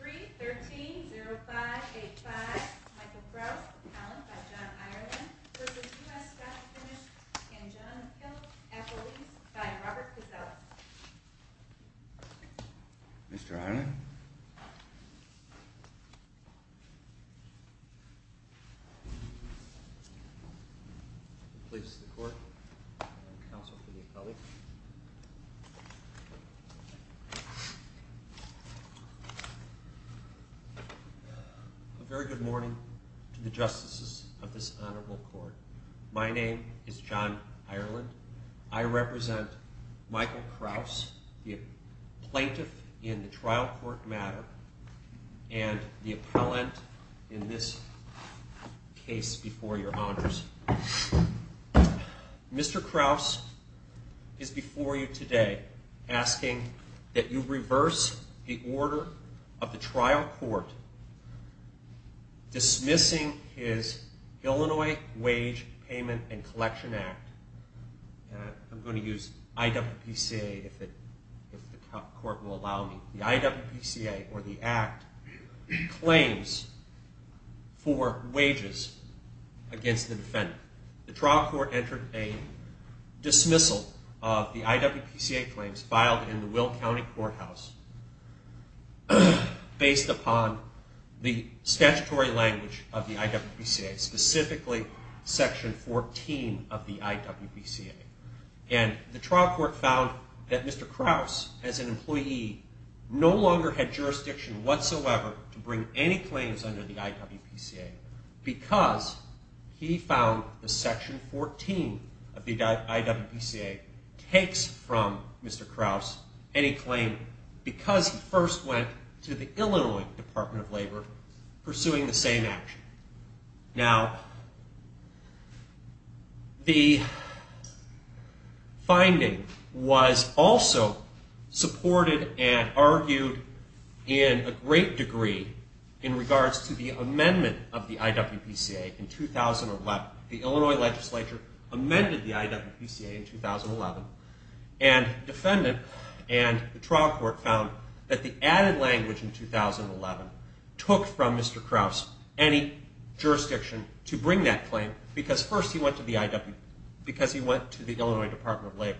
3-13-05-85 Michael Krause, appellant by John Ireland v. USA Docufinish and John Hill, appellate by Robert Pazella Mr. Ireland Police to the court. Counsel to the appellate. A very good morning to the justices of this honorable court. My name is John Ireland. I represent Michael Krause, the plaintiff in the trial court matter and the appellant in this case before your honors. Mr. Krause is before you today asking that you reverse the order of the trial court dismissing his Illinois Wage Payment and Collection Act. I'm going to use IWPCA if the court will allow me. The IWPCA, or the Act, claims for wages against the defendant. The trial court entered a dismissal of the IWPCA claims filed in the Will County Courthouse based upon the statutory language of the IWPCA, specifically Section 14 of the IWPCA. And the trial court found that Mr. Krause, as an employee, no longer had jurisdiction whatsoever to bring any claims under the IWPCA because he found that Section 14 of the IWPCA takes from Mr. Krause any claim because he first went to the Illinois Department of Labor pursuing the same action. Now, the finding was also supported and argued in a great degree in regards to the amendment of the IWPCA in 2011. The Illinois legislature amended the IWPCA in 2011 and defendant and the trial court found that the added language in 2011 took from Mr. Krause any jurisdiction to bring that claim because first he went to the Illinois Department of Labor.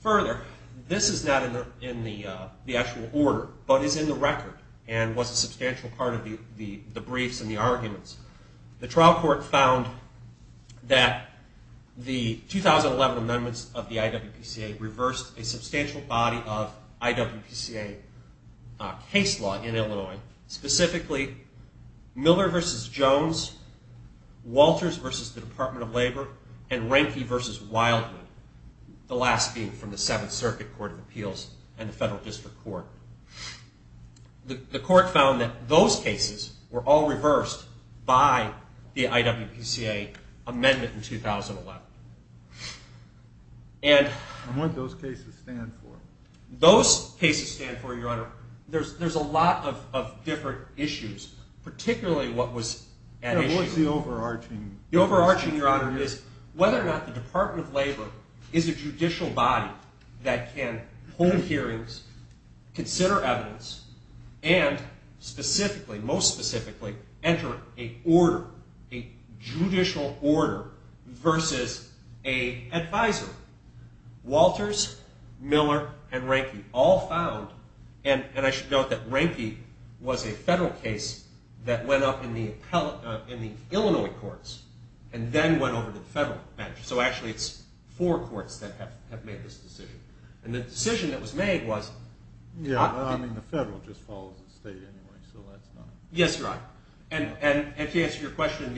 Further, this is not in the actual order but is in the record and was a substantial part of the briefs and the arguments. The trial court found that the 2011 amendments of the IWPCA reversed a substantial body of IWPCA case law in Illinois, specifically Miller v. Jones, Walters v. Department of Labor, and Rehnke v. Wildwood, the last being from the Seventh Circuit Court of Appeals and the Federal District Court. The court found that those cases were all reversed by the IWPCA amendment in 2011. And what do those cases stand for? Those cases stand for, Your Honor, there's a lot of different issues, particularly what was at issue. The overarching, Your Honor, is whether or not the Department of Labor is a judicial body that can hold hearings, consider evidence, and specifically, most specifically, enter a judicial order versus an advisor. Walters, Miller, and Rehnke all found, and I should note that Rehnke was a federal case that went up in the Illinois courts and then went over to the federal bench, so actually it's four courts that have made this decision. And the decision that was made was… Yeah, well, I mean, the federal just follows the state anyway, so that's not… Yes, Your Honor, and to answer your question,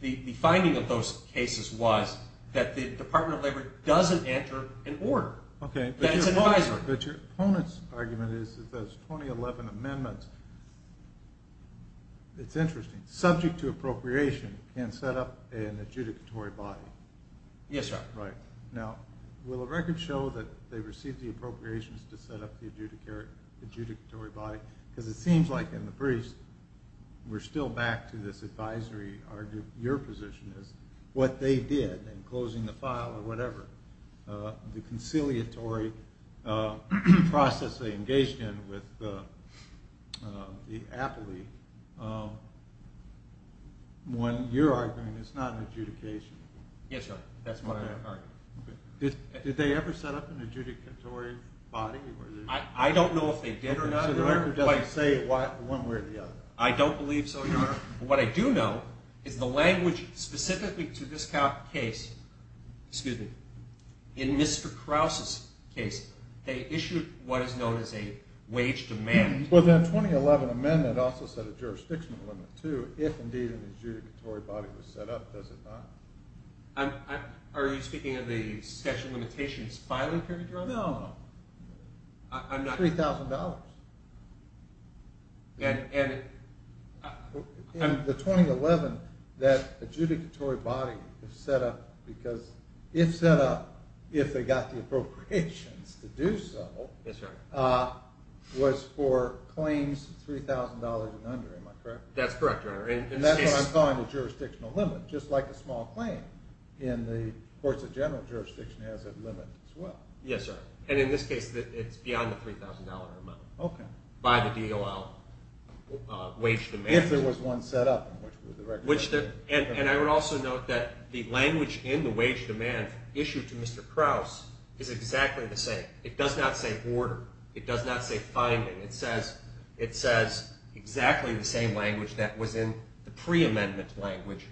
the finding of those cases was that the Department of Labor doesn't enter an order, that it's an advisor. But your opponent's argument is that those 2011 amendments, it's interesting, subject to appropriation, can set up an adjudicatory body. Yes, Your Honor. Now, will the record show that they received the appropriations to set up the adjudicatory body? Because it seems like in the briefs, we're still back to this advisory argument, your position is what they did in closing the file or whatever, the conciliatory process they engaged in with the appellee, when you're arguing it's not an adjudication. Yes, Your Honor, that's what I'm arguing. Did they ever set up an adjudicatory body? I don't know if they did or not. So the record doesn't say one way or the other? I don't believe so, Your Honor. What I do know is the language specifically to this case, excuse me, in Mr. Krause's case, they issued what is known as a wage demand. Well, the 2011 amendment also said a jurisdiction limit, too. If, indeed, an adjudicatory body was set up, does it not? Are you speaking of the section limitations filing period, Your Honor? No. I'm not. $3,000. In the 2011, that adjudicatory body was set up because if set up, if they got the appropriations to do so, was for claims $3,000 and under, am I correct? That's correct, Your Honor. And that's what I'm calling a jurisdictional limit, just like a small claim in the courts of general jurisdiction has a limit as well. Yes, sir. And in this case, it's beyond the $3,000 amount. Okay. By the DOL wage demand. If there was one set up. And I would also note that the language in the wage demand issued to Mr. Krause is exactly the same. It does not say order. It does not say finding. It says exactly the same language that was in the pre-amendment language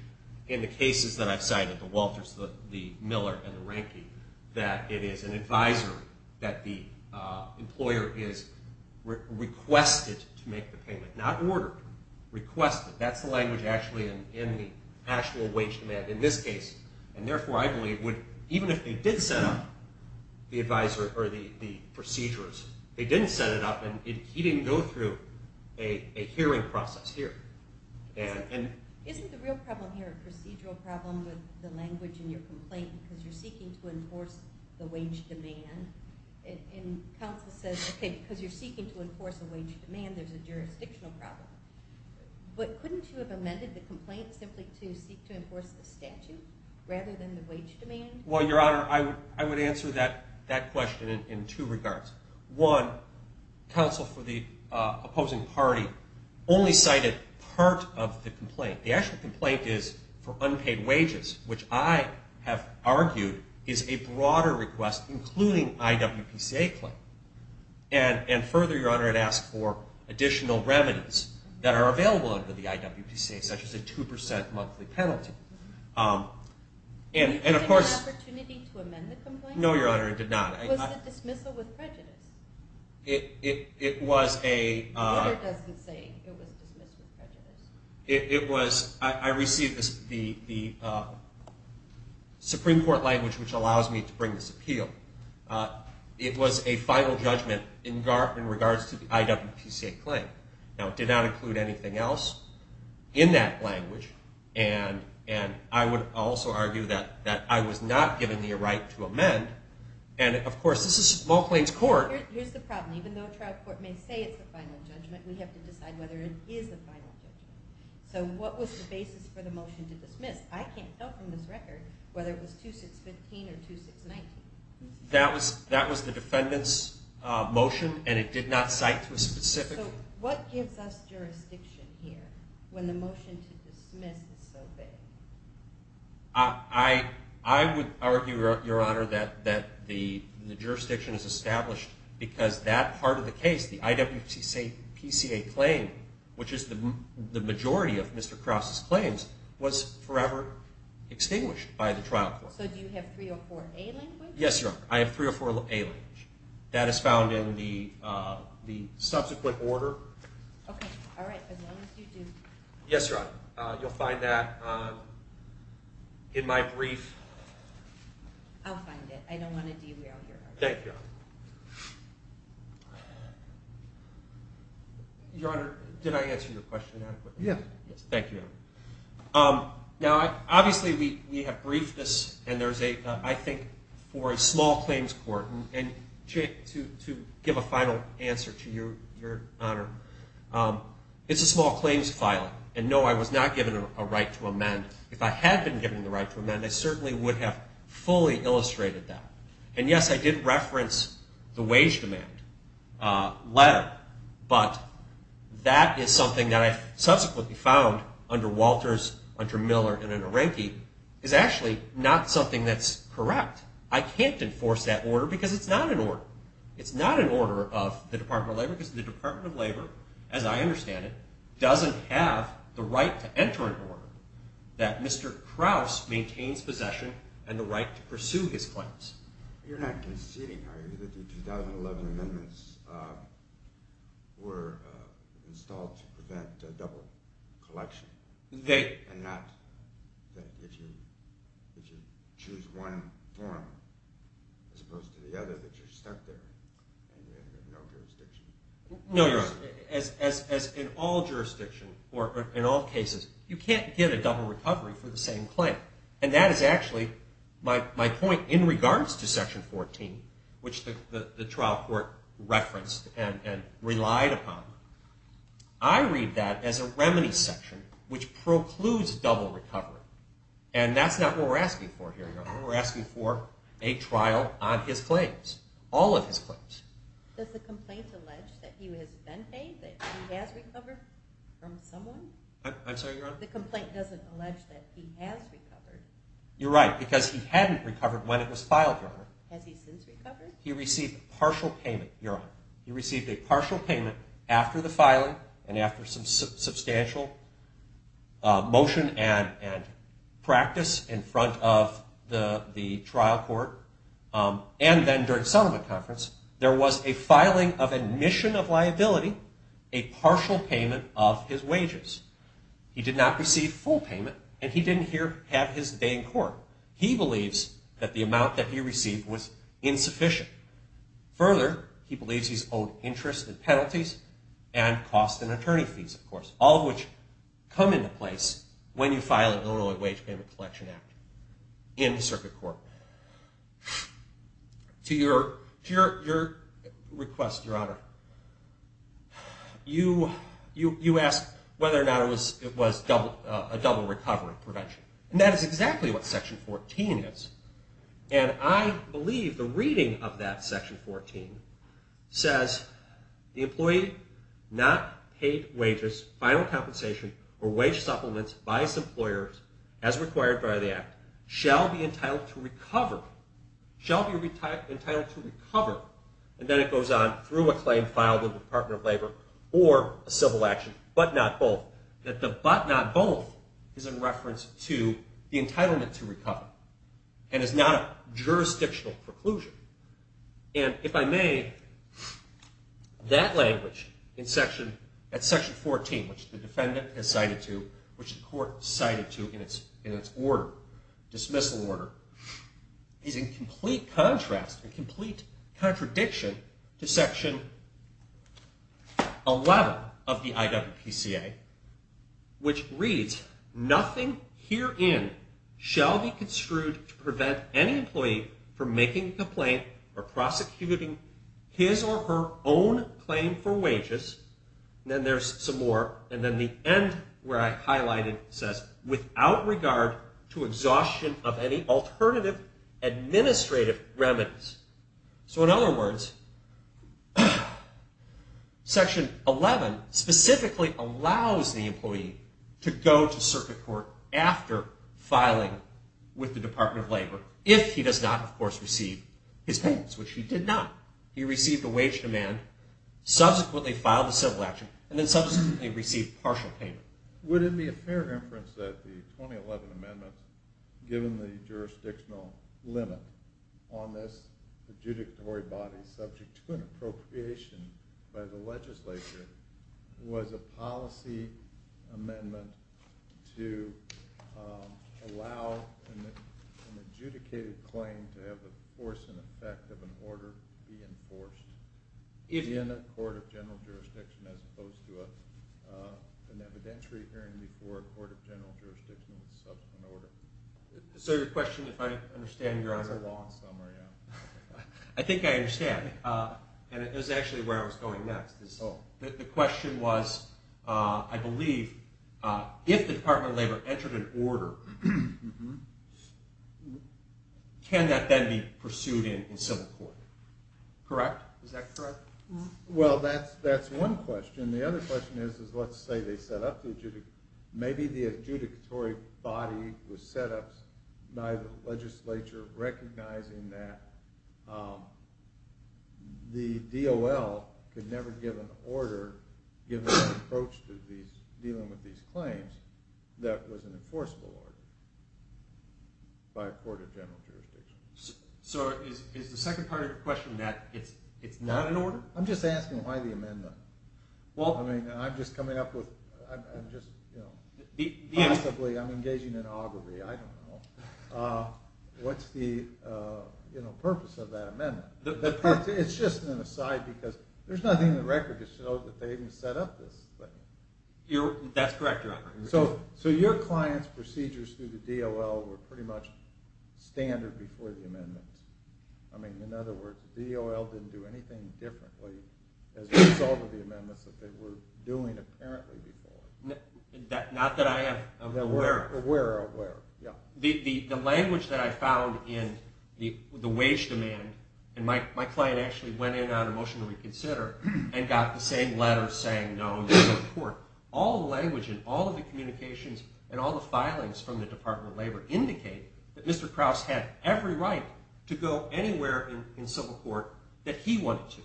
in the cases that I've cited, the Walters, the Miller, and the Rankine, that it is an advisor that the employer is requested to make the payment, not ordered, requested. That's the language actually in the actual wage demand in this case. And therefore, I believe, even if they did set up the procedures, they didn't set it up and he didn't go through a hearing process here. Isn't the real problem here a procedural problem with the language in your complaint because you're seeking to enforce the wage demand? And counsel says, okay, because you're seeking to enforce a wage demand, there's a jurisdictional problem. But couldn't you have amended the complaint simply to seek to enforce the statute rather than the wage demand? Well, Your Honor, I would answer that question in two regards. One, counsel for the opposing party only cited part of the complaint. The actual complaint is for unpaid wages, which I have argued is a broader request, including IWPCA claim. And further, Your Honor, it asks for additional revenues that are available under the IWPCA, such as a 2% monthly penalty. And of course- Did you have an opportunity to amend the complaint? No, Your Honor, I did not. Was it dismissal with prejudice? It was a- The order doesn't say it was dismissal with prejudice. It was- I received the Supreme Court language which allows me to bring this appeal. It was a final judgment in regards to the IWPCA claim. Now, it did not include anything else in that language. And I would also argue that I was not given the right to amend. And, of course, this is small claims court. Here's the problem. Even though a trial court may say it's a final judgment, we have to decide whether it is a final judgment. So what was the basis for the motion to dismiss? I can't tell from this record whether it was 2615 or 2619. That was the defendant's motion, and it did not cite to a specific- So what gives us jurisdiction here when the motion to dismiss is so vague? I would argue, Your Honor, that the jurisdiction is established because that part of the case, the IWPCA claim, which is the majority of Mr. Krause's claims, was forever extinguished by the trial court. So do you have 304A language? Yes, Your Honor. I have 304A language. That is found in the subsequent order. Okay. All right. As long as you do- Yes, Your Honor. You'll find that in my brief. I'll find it. I don't want to derail your argument. Thank you, Your Honor. Your Honor, did I answer your question adequately? Yes. Thank you, Your Honor. Now, obviously, we have briefed this, and there's a, I think, for a small claims court. And to give a final answer to Your Honor, it's a small claims filing. And, no, I was not given a right to amend. If I had been given the right to amend, I certainly would have fully illustrated that. And, yes, I did reference the wage demand letter, but that is something that I subsequently found under Walters, under Miller, and under Reinke, is actually not something that's correct. I can't enforce that order because it's not an order. It's not an order of the Department of Labor because the Department of Labor, as I understand it, doesn't have the right to enter an order that Mr. Krause maintains possession and the right to pursue his claims. You're not conceding, are you, that the 2011 amendments were installed to prevent double collection? And not that if you choose one form as opposed to the other that you're stuck there and you have no jurisdiction? No, Your Honor. As in all jurisdictions or in all cases, you can't get a double recovery for the same claim. And that is actually my point in regards to Section 14, which the trial court referenced and relied upon. I read that as a remedy section which precludes double recovery. And that's not what we're asking for here, Your Honor. We're asking for a trial on his claims, all of his claims. Does the complaint allege that he has been paid, that he has recovered from someone? I'm sorry, Your Honor? The complaint doesn't allege that he has recovered. You're right because he hadn't recovered when it was filed, Your Honor. Has he since recovered? He received a partial payment, Your Honor. He received a partial payment after the filing and after some substantial motion and practice in front of the trial court. And then during settlement conference, there was a filing of admission of liability, a partial payment of his wages. He did not receive full payment and he didn't have his day in court. He believes that the amount that he received was insufficient. Further, he believes he's owed interest and penalties and costs and attorney fees, of course, all of which come into place when you file a Illinois Wage Payment Collection Act in the circuit court. To your request, Your Honor, you ask whether or not it was a double recovery prevention. And that is exactly what Section 14 is. And I believe the reading of that Section 14 says the employee not paid wages, final compensation, or wage supplements by his employers as required by the Act, shall be entitled to recover, shall be entitled to recover, and then it goes on through a claim filed with the Department of Labor or a civil action, but not both. That the but not both is in reference to the entitlement to recover and is not a jurisdictional preclusion. And if I may, that language at Section 14, which the defendant has cited to, which the court cited to in its order, dismissal order, is in complete contrast and complete contradiction to Section 11 of the IWPCA, which reads, nothing herein shall be construed to prevent any employee from making a complaint or prosecuting his or her own claim for wages. Then there's some more. And then the end where I highlighted says, without regard to exhaustion of any alternative administrative remedies. So in other words, Section 11 specifically allows the employee to go to circuit court after filing with the Department of Labor if he does not, of course, receive his payments, which he did not. He received a wage demand, subsequently filed a civil action, and then subsequently received partial payment. Would it be a fair inference that the 2011 amendments, given the jurisdictional limit on this adjudicatory body subject to an appropriation by the legislature, was a policy amendment to allow an adjudicated claim to have the force and effect of an order to be enforced? In a court of general jurisdiction as opposed to an evidentiary hearing before a court of general jurisdiction with subsequent order. So your question, if I understand your answer... It's a long summary, yeah. I think I understand. And it was actually where I was going next. The question was, I believe, if the Department of Labor entered an order, can that then be pursued in civil court? Correct? Is that correct? Well, that's one question. The other question is, let's say they set up the adjudicatory... Maybe the adjudicatory body was set up by the legislature recognizing that the DOL could never give an order, give an approach to dealing with these claims, that was an enforceable order by a court of general jurisdiction. So is the second part of your question that it's not an order? I'm just asking why the amendment. I'm just coming up with... Possibly I'm engaging in augury, I don't know. What's the purpose of that amendment? It's just an aside because there's nothing in the record to show that they even set up this thing. That's correct, Your Honor. So your client's procedures through the DOL were pretty much standard before the amendment. In other words, the DOL didn't do anything differently as a result of the amendments that they were doing apparently before. Not that I am aware of. Aware of, yeah. The language that I found in the wage demand, and my client actually went in on a motion to reconsider and got the same letter saying no to the report. All the language in all of the communications and all the filings from the Department of Labor indicate that Mr. Krause had every right to go anywhere in civil court that he wanted to.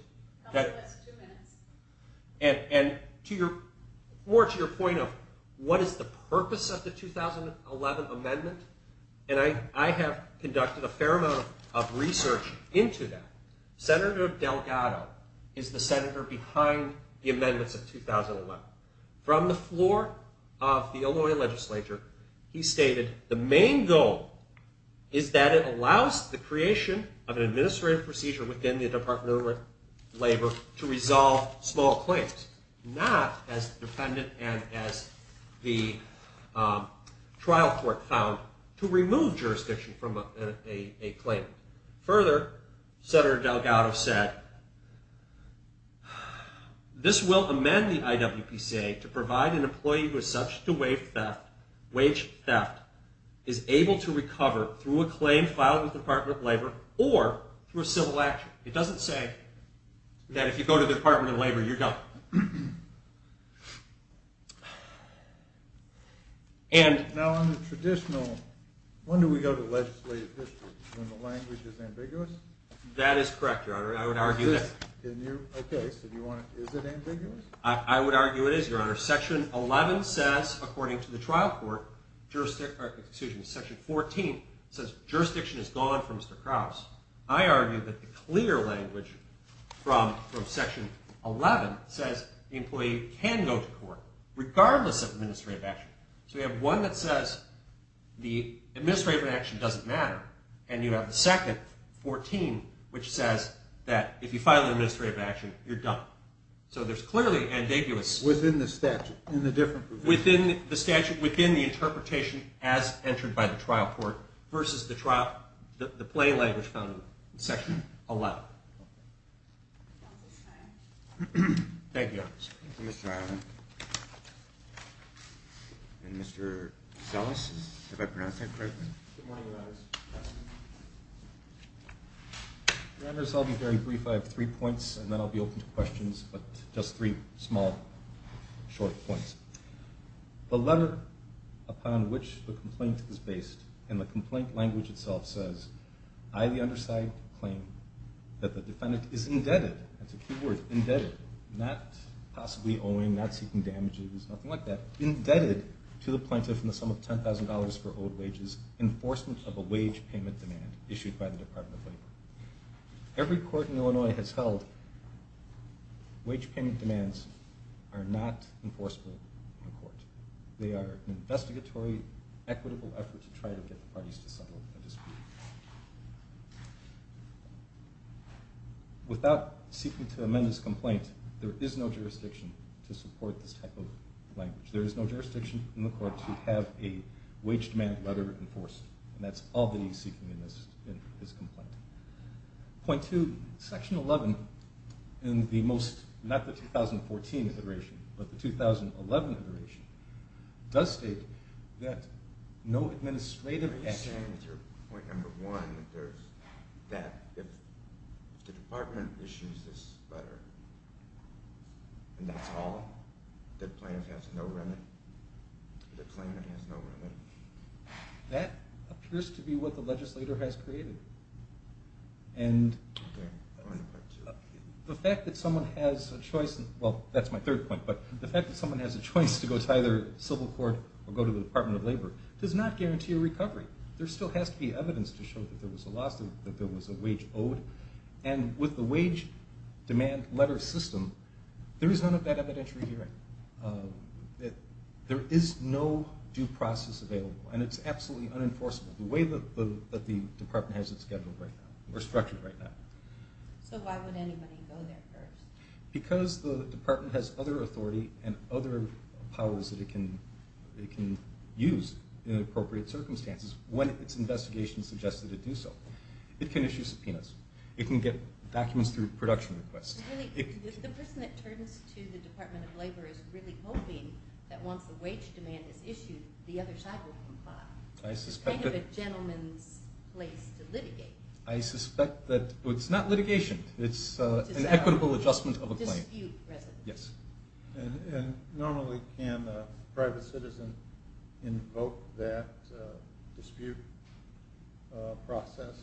That was two minutes. And more to your point of what is the purpose of the 2011 amendment, and I have conducted a fair amount of research into that. Senator Delgado is the senator behind the amendments of 2011. From the floor of the Illinois legislature, he stated, the main goal is that it allows the creation of an administrative procedure within the Department of Labor to resolve small claims, not as the defendant and as the trial court found, to remove jurisdiction from a claim. Further, Senator Delgado said, this will amend the IWPCA to provide an employee who is subject to wage theft is able to recover through a claim filed with the Department of Labor or through a civil action. It doesn't say that if you go to the Department of Labor, you're done. Now on the traditional, when do we go to legislative history? When the language is ambiguous? That is correct, Your Honor. I would argue that. Okay, so is it ambiguous? I would argue it is, Your Honor. Section 11 says, according to the trial court, section 14 says jurisdiction is gone from Mr. Krause. I argue that the clear language from section 11 says the employee can go to court, regardless of administrative action. So we have one that says the administrative action doesn't matter, and you have the second, 14, which says that if you file an administrative action, you're done. So there's clearly ambiguous. Within the statute, in the different provisions. Within the statute, within the interpretation as entered by the trial court versus the play language found in section 11. Thank you, Your Honor. Thank you, Mr. Ireland. And Mr. Sellis, have I pronounced that correctly? Good morning, Your Honors. Your Honors, I'll be very brief. I have three points, and then I'll be open to questions, but just three small, short points. The letter upon which the complaint is based, and the complaint language itself says, I, the undersigned, claim that the defendant is indebted. That's a key word, indebted. Not possibly owing, not seeking damages, nothing like that. Indebted to the plaintiff in the sum of $10,000 for owed wages, enforcement of a wage payment demand issued by the Department of Labor. Every court in Illinois has held wage payment demands are not enforceable. They are an investigatory, equitable effort to try to get the parties to settle a dispute. Without seeking to amend this complaint, there is no jurisdiction to support this type of language. There is no jurisdiction in the court to have a wage demand letter enforced, and that's all that he's seeking in this complaint. Point two, section 11, in the most, not the 2014 iteration, but the 2011 iteration, does state that no administrative action... Are you saying that your point number one, that if the department issues this letter, and that's all, that plaintiff has no remit? That the plaintiff has no remit? That appears to be what the legislator has created. And... Point two. The fact that someone has a choice, well, that's my third point, but the fact that someone has a choice to go to either civil court or go to the Department of Labor does not guarantee a recovery. There still has to be evidence to show that there was a loss, that there was a wage owed, and with the wage demand letter system, there is none of that evidentiary hearing. There is no due process available, and it's absolutely unenforceable, the way that the department has it scheduled right now, or structured right now. So why would anybody go there first? Because the department has other authority and other powers that it can use in appropriate circumstances, when its investigation suggests that it do so. It can issue subpoenas. It can get documents through production requests. The person that turns to the Department of Labor is really hoping that once the wage demand is issued, the other side will comply. I suspect that... It's kind of a gentleman's place to litigate. I suspect that it's not litigation. It's an equitable adjustment of a claim. Dispute resolution. Yes. And normally, can a private citizen invoke that dispute process?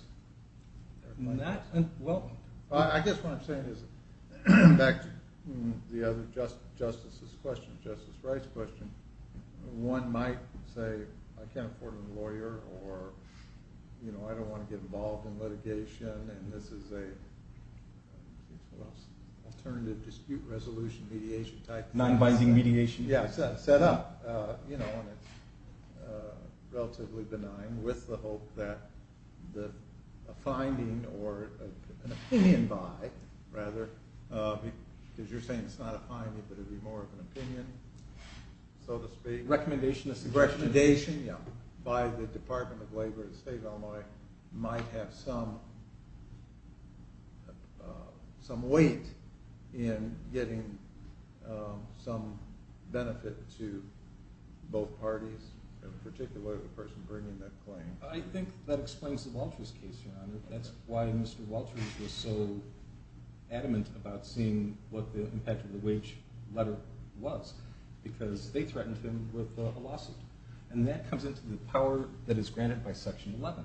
Not... Well, I guess what I'm saying is, back to the other justice's question, Justice Wright's question, one might say, I can't afford a lawyer, or I don't want to get involved in litigation, and this is an alternative dispute resolution mediation type thing. Non-binding mediation. Yes. Set up, you know, and it's relatively benign, with the hope that a finding, or an opinion by, rather, because you're saying it's not a finding, but it would be more of an opinion, so to speak. Recommendation. Recommendation, yeah. By the Department of Labor at the State of Illinois, might have some weight in getting some benefit to both parties, in particular the person bringing that claim. I think that explains the Walters case, Your Honor. That's why Mr. Walters was so adamant about seeing what the impact of the wage letter was, because they threatened him with a lawsuit. And that comes into the power that is granted by Section 11,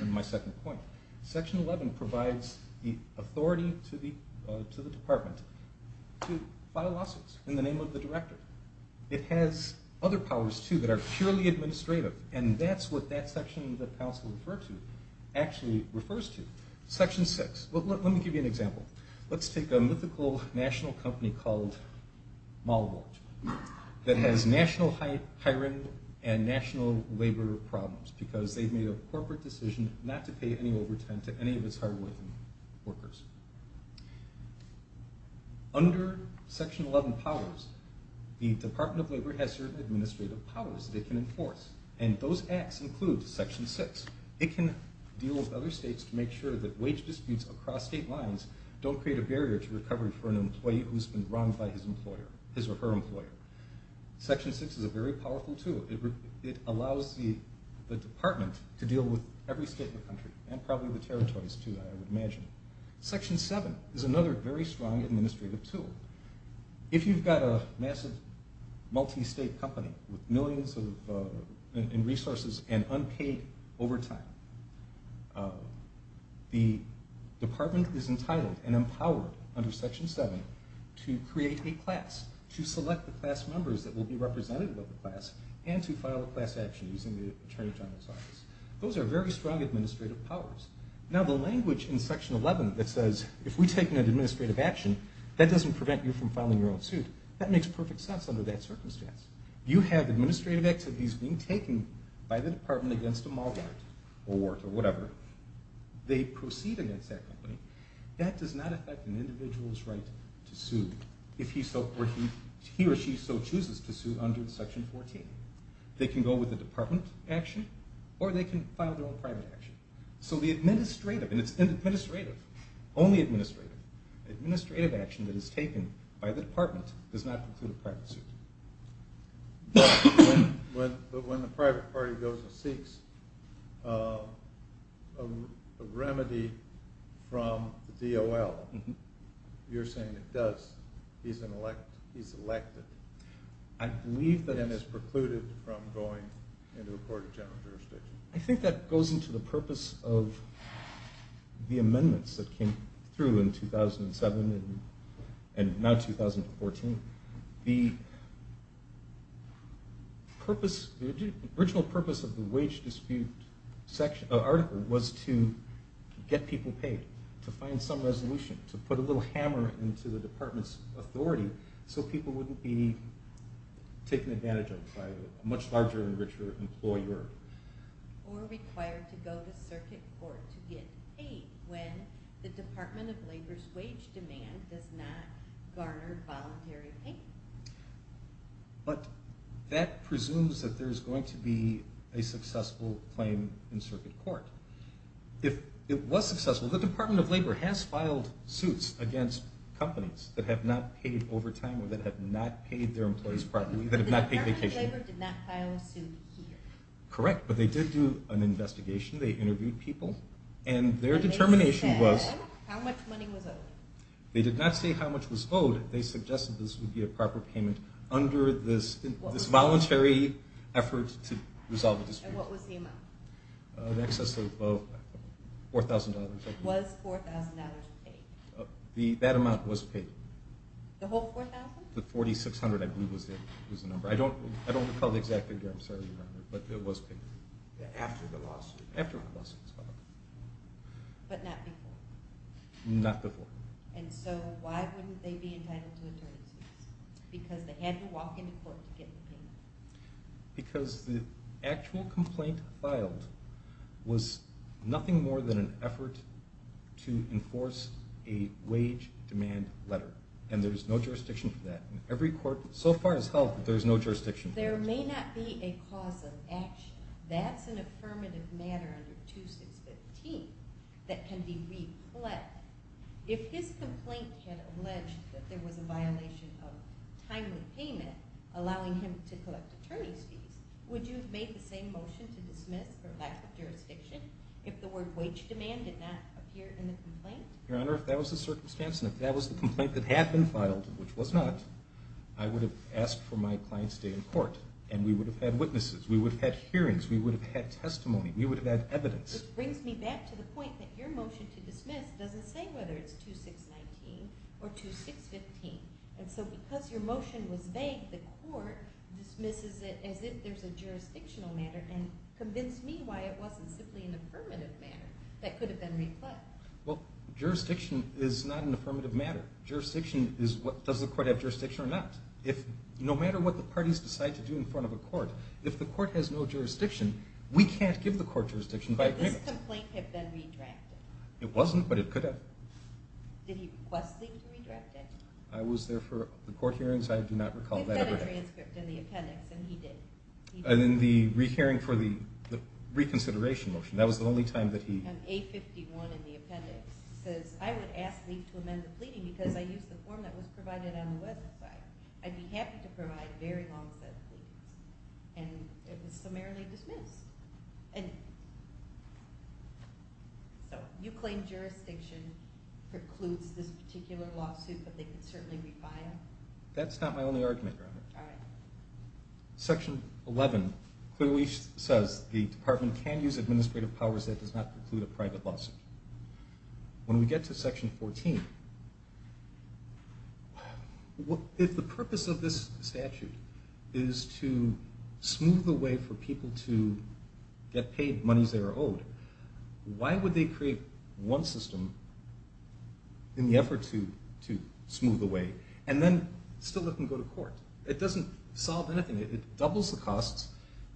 in my second point. Section 11 provides the authority to the department to file lawsuits in the name of the director. It has other powers, too, that are purely administrative, and that's what that section that counsel referred to actually refers to. Section 6. Let me give you an example. Let's take a mythical national company called Mollibulch that has national hiring and national labor problems because they've made a corporate decision not to pay any overtime to any of its hard-working workers. Under Section 11 powers, the Department of Labor has certain administrative powers they can enforce, and those acts include Section 6. It can deal with other states to make sure that wage disputes across state lines don't create a barrier to recovery for an employee who's been wronged by his or her employer. Section 6 is a very powerful tool. It allows the department to deal with every state in the country, and probably the territories, too, I would imagine. Section 7 is another very strong administrative tool. If you've got a massive multi-state company with millions in resources and unpaid overtime, the department is entitled and empowered under Section 7 to create a class, to select the class members that will be representative of the class, and to file a class action using the attorney general's office. Those are very strong administrative powers. Now, the language in Section 11 that says, if we take an administrative action, that doesn't prevent you from filing your own suit, that makes perfect sense under that circumstance. You have administrative activities being taken by the department against a malwart or wart or whatever. They proceed against that company. That does not affect an individual's right to sue if he or she so chooses to sue under Section 14. They can go with a department action, or they can file their own private action. So the administrative, and it's administrative, only administrative, administrative action that is taken by the department does not include a private suit. But when the private party goes and seeks a remedy from the DOL, you're saying it does, he's elected and is precluded from going into a court of general jurisdiction. I think that goes into the purpose of the amendments that came through in 2007 and now 2014. The original purpose of the wage dispute article was to get people paid, to find some resolution, to put a little hammer into the department's authority so people wouldn't be taken advantage of by a much larger and richer employer. Or required to go to circuit court to get paid when the Department of Labor's wage demand does not garner voluntary pay. But that presumes that there's going to be a successful claim in circuit court. If it was successful, the Department of Labor has filed suits against companies that have not paid overtime or that have not paid their employees properly, that have not paid vacation. The Department of Labor did not file a suit here. Correct, but they did do an investigation. They interviewed people, and their determination was... They did not say how much was owed. They suggested this would be a proper payment under this voluntary effort to resolve the dispute. And what was the amount? In excess of $4,000. Was $4,000 paid? That amount was paid. The whole $4,000? The $4,600, I believe, was the number. I don't recall the exact figure. I'm sorry, Your Honor, but it was paid. After the lawsuit? After the lawsuit. But not before? Not before. And so why wouldn't they be entitled to attorney's fees? Because they had to walk into court to get the payment. Because the actual complaint filed was nothing more than an effort to enforce a wage demand letter, and there's no jurisdiction for that. In every court so far as health, there's no jurisdiction for that. There may not be a cause of action. That's an affirmative matter under 2615 that can be replayed. If his complaint had alleged that there was a violation of timely payment allowing him to collect attorney's fees, would you have made the same motion to dismiss for lack of jurisdiction if the word wage demand did not appear in the complaint? Your Honor, if that was the circumstance, and if that was the complaint that had been filed, which was not, I would have asked for my client's day in court, and we would have had witnesses, we would have had hearings, we would have had testimony, we would have had evidence. It brings me back to the point that your motion to dismiss doesn't say whether it's 2619 or 2615. And so because your motion was vague, the court dismisses it as if there's a jurisdictional matter and convinced me why it wasn't simply an affirmative matter that could have been replayed. Well, jurisdiction is not an affirmative matter. Does the court have jurisdiction or not? No matter what the parties decide to do in front of a court, if the court has no jurisdiction, we can't give the court jurisdiction by agreement. Did this complaint have been redrafted? It wasn't, but it could have. Did he request leave to redraft it? I was there for the court hearings. I do not recall that ever happening. We've got a transcript in the appendix, and he did. And in the re-hearing for the reconsideration motion, that was the only time that he... And A51 in the appendix says, I would ask leave to amend the pleading because I used the form that was provided on the website. I'd be happy to provide a very long set of pleadings. And it was summarily dismissed. So you claim jurisdiction precludes this particular lawsuit, but they could certainly refile it? That's not my only argument, Robert. All right. Section 11 clearly says, the department can use administrative powers that does not preclude a private lawsuit. When we get to Section 14, if the purpose of this statute is to smooth the way for people to get paid monies they are owed, why would they create one system in the effort to smooth the way and then still let them go to court? It doesn't solve anything. It doubles the costs,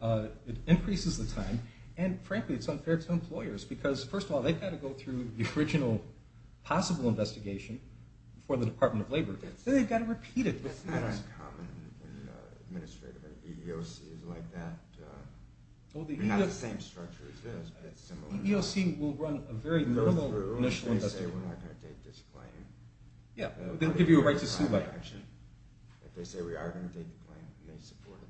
it increases the time, and, frankly, it's unfair to employers because, first of all, they've got to go through the original possible investigation before the Department of Labor. Then they've got to repeat it. That's not uncommon in administrative, and EEOC is like that. They're not the same structure as this, but it's similar. EEOC will run a very normal initial investigation. If they say we're not going to date this claim... Yeah, they'll give you a right to sue letter. If they say we are going to date the claim, we may support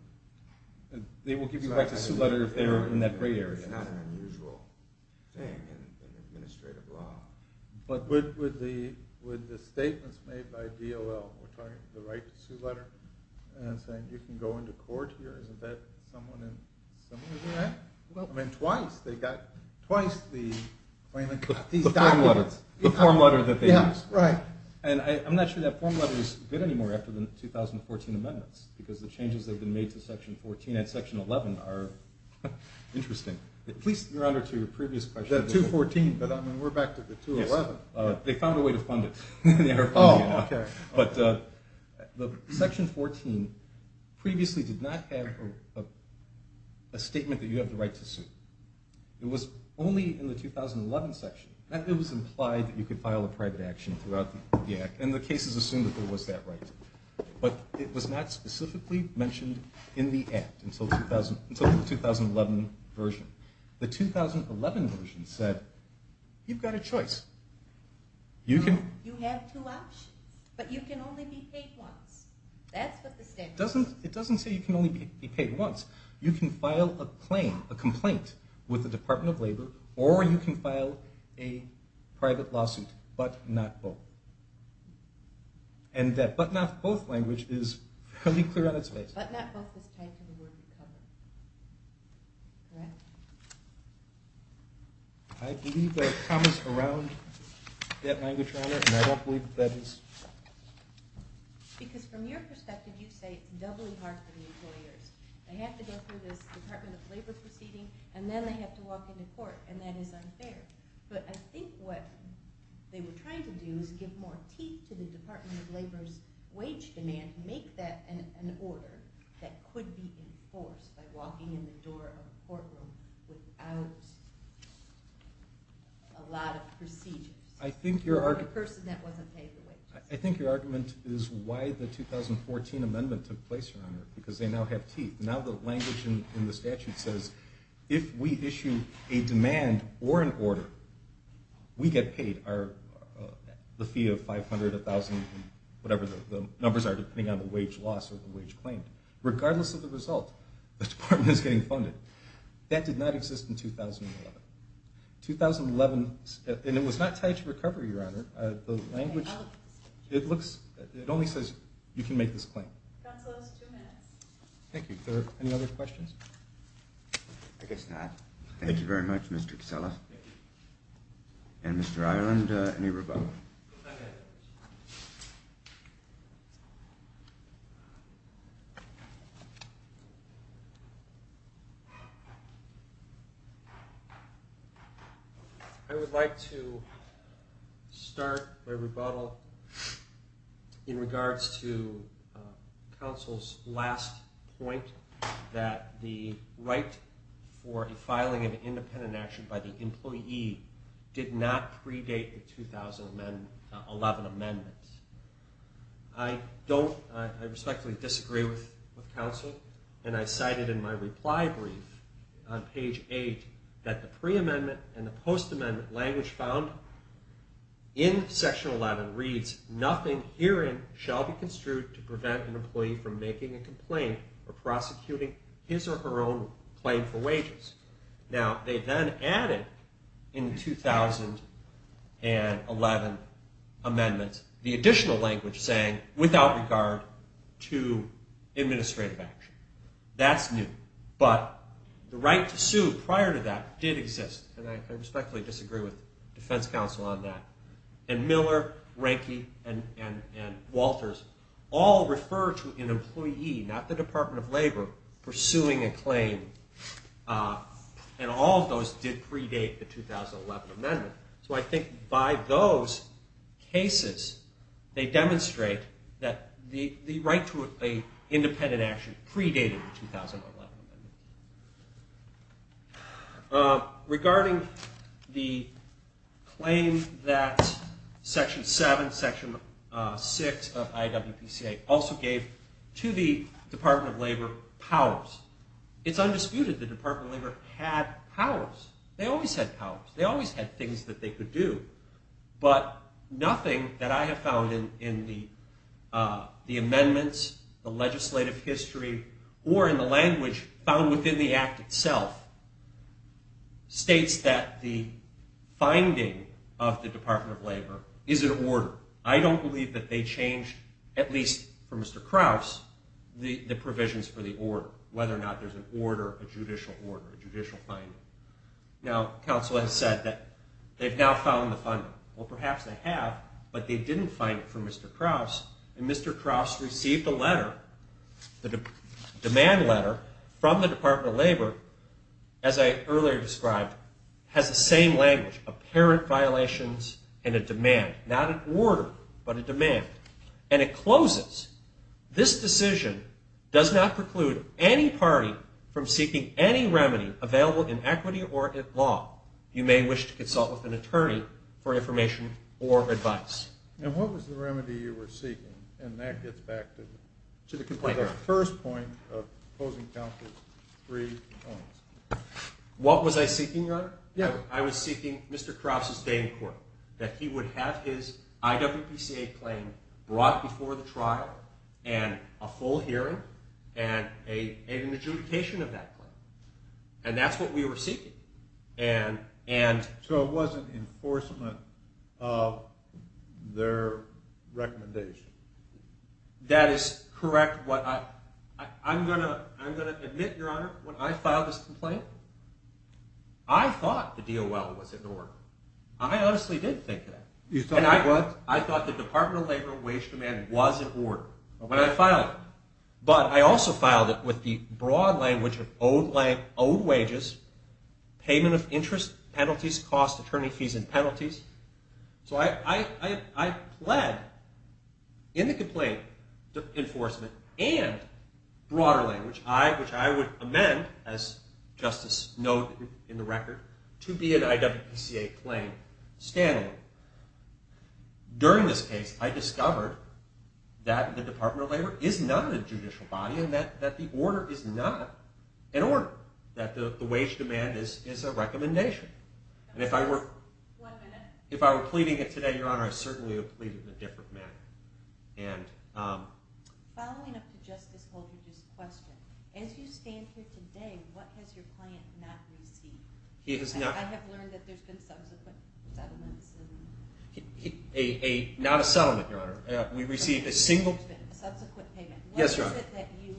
it. They will give you a right to sue letter if they're in that gray area. It's not an unusual thing in administrative law. But with the statements made by DOL, the right to sue letter, and saying you can go into court here, isn't that similar to that? Twice the claimant got these documents. The form letter that they use. I'm not sure that form letter is good anymore after the 2014 amendments because the changes that have been made to section 14 and section 11 are interesting. Please, Your Honor, to your previous question. The 214, but we're back to the 211. They found a way to fund it. Oh, okay. But section 14 previously did not have a statement that you have the right to sue. It was only in the 2011 section. It was implied that you could file a private action throughout the act, and the cases assumed that there was that right. But it was not specifically mentioned in the act until the 2011 version. The 2011 version said, you've got a choice. You have two options, but you can only be paid once. That's what the statute says. It doesn't say you can only be paid once. You can file a complaint with the Department of Labor, or you can file a private lawsuit, but not both. And that but not both language is fairly clear on its face. But not both is tied to the word recover. Correct? I believe there are commas around that language, Your Honor, and I don't believe that is... Because from your perspective, you say it's doubly hard for the employers. They have to go through this Department of Labor proceeding, and then they have to walk into court, and that is unfair. But I think what they were trying to do was give more teeth to the Department of Labor's wage demand, make that an order that could be enforced by walking in the door of a courtroom without a lot of procedures. I think your argument... For a person that wasn't paid the wages. I think your argument is why the 2014 amendment took place, Your Honor, because they now have teeth. Now the language in the statute says, if we issue a demand or an order, we get paid. The fee of 500, 1,000, whatever the numbers are, depending on the wage loss or the wage claimed. Regardless of the result, the department is getting funded. That did not exist in 2011. 2011... And it was not tied to recovery, Your Honor. The language... It only says, you can make this claim. Thank you. Are there any other questions? I guess not. Thank you very much, Mr. Casella. And Mr. Ireland, any rebuttal? I would like to start my rebuttal in regards to counsel's last point, that the right for a filing of an independent action by the employee did not predate the 2011 amendments. I respectfully disagree with counsel, and I cited in my reply brief on page 8 that the pre-amendment and the post-amendment language found in section 11 reads, nothing herein shall be construed to prevent an employee from making a complaint or prosecuting his or her own claim for wages. Now, they then added in the 2011 amendments the additional language saying, without regard to administrative action. That's new. But the right to sue prior to that did exist, and I respectfully disagree with defense counsel on that. And Miller, Ranky, and Walters all refer to an employee, not the Department of Labor, pursuing a claim, and all of those did predate the 2011 amendment. So I think by those cases, they demonstrate that the right to an independent action predated the 2011 amendment. Regarding the claim that section 7, section 6 of IWPCA also gave to the Department of Labor powers. It's undisputed the Department of Labor had powers. They always had powers. They always had things that they could do. But nothing that I have found in the amendments, the legislative history, or in the language found within the Act itself states that the finding of the Department of Labor is in order. I don't believe that they changed, at least for Mr. Krause, the provisions for the order, whether or not there's an order, a judicial order, a judicial finding. Now, counsel has said that they've now found the finding. Well, perhaps they have, but they didn't find it for Mr. Krause, and Mr. Krause received a letter, a demand letter, from the Department of Labor, as I earlier described, has the same language, apparent violations and a demand, not an order but a demand, and it closes, this decision does not preclude any party from seeking any remedy available in equity or in law. You may wish to consult with an attorney for information or advice. And what was the remedy you were seeking? And that gets back to the first point of opposing counsel's three points. What was I seeking, Your Honor? I was seeking Mr. Krause's day in court, that he would have his IWPCA claim brought before the trial and a full hearing and an adjudication of that claim. And that's what we were seeking. So it wasn't enforcement of their recommendation? That is correct. I'm going to admit, Your Honor, when I filed this complaint, I thought the DOL was in order. I honestly did think that. You thought what? I thought the Department of Labor wage demand was in order when I filed it. But I also filed it with the broad language of owed wages, payment of interest, penalties, cost, attorney fees, and penalties. So I pled in the complaint enforcement and broader language, which I would amend, as Justice noted in the record, to be an IWPCA claim standalone. During this case, I discovered that the Department of Labor is not a judicial body and that the order is not in order, that the wage demand is a recommendation. And if I were pleading it today, Your Honor, I certainly would plead it in a different manner. Following up to Justice Holdred's question, as you stand here today, what has your client not received? I have learned that there's been subsequent settlements. Not a settlement, Your Honor. A subsequent payment. What is it that you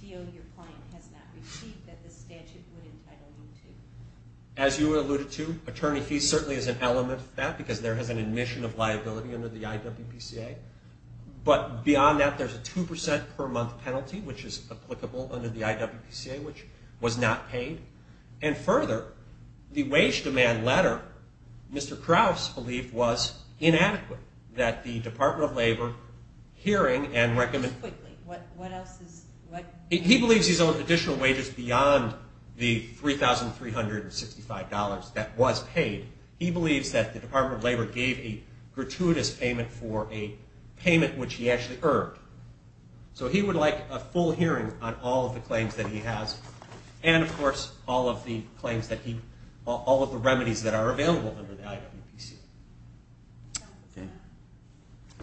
feel your client has not received that the statute would entitle you to? As you alluded to, attorney fees certainly is an element of that because there is an admission of liability under the IWPCA. But beyond that, there's a 2% per month penalty, which is applicable under the IWPCA, which was not paid. And further, the wage demand letter, Mr. Krauf's belief was inadequate, that the Department of Labor hearing and recommending... Just quickly, what else is... He believes he's owed additional wages beyond the $3,365 that was paid. He believes that the Department of Labor gave a gratuitous payment for a payment which he actually earned. So he would like a full hearing on all of the claims that he has and, of course, all of the claims that he... all of the remedies that are available under the IWPCA. Okay.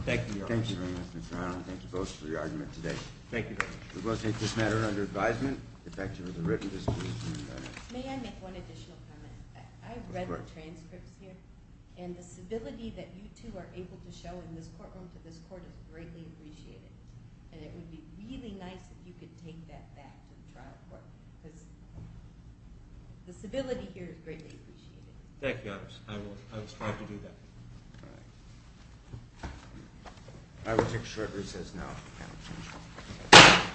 Thank you, Your Honor. Thank you very much, Mr. Arnold. Thank you both for your argument today. Thank you very much. We will take this matter under advisement, effective as a written decision. May I make one additional comment? I've read the transcripts here, and the civility that you two are able to show in this courtroom to this court is greatly appreciated. And it would be really nice if you could take that back to the trial court because the civility here is greatly appreciated. Thank you, Your Honor. I will try to do that. All right. I will take short recess now.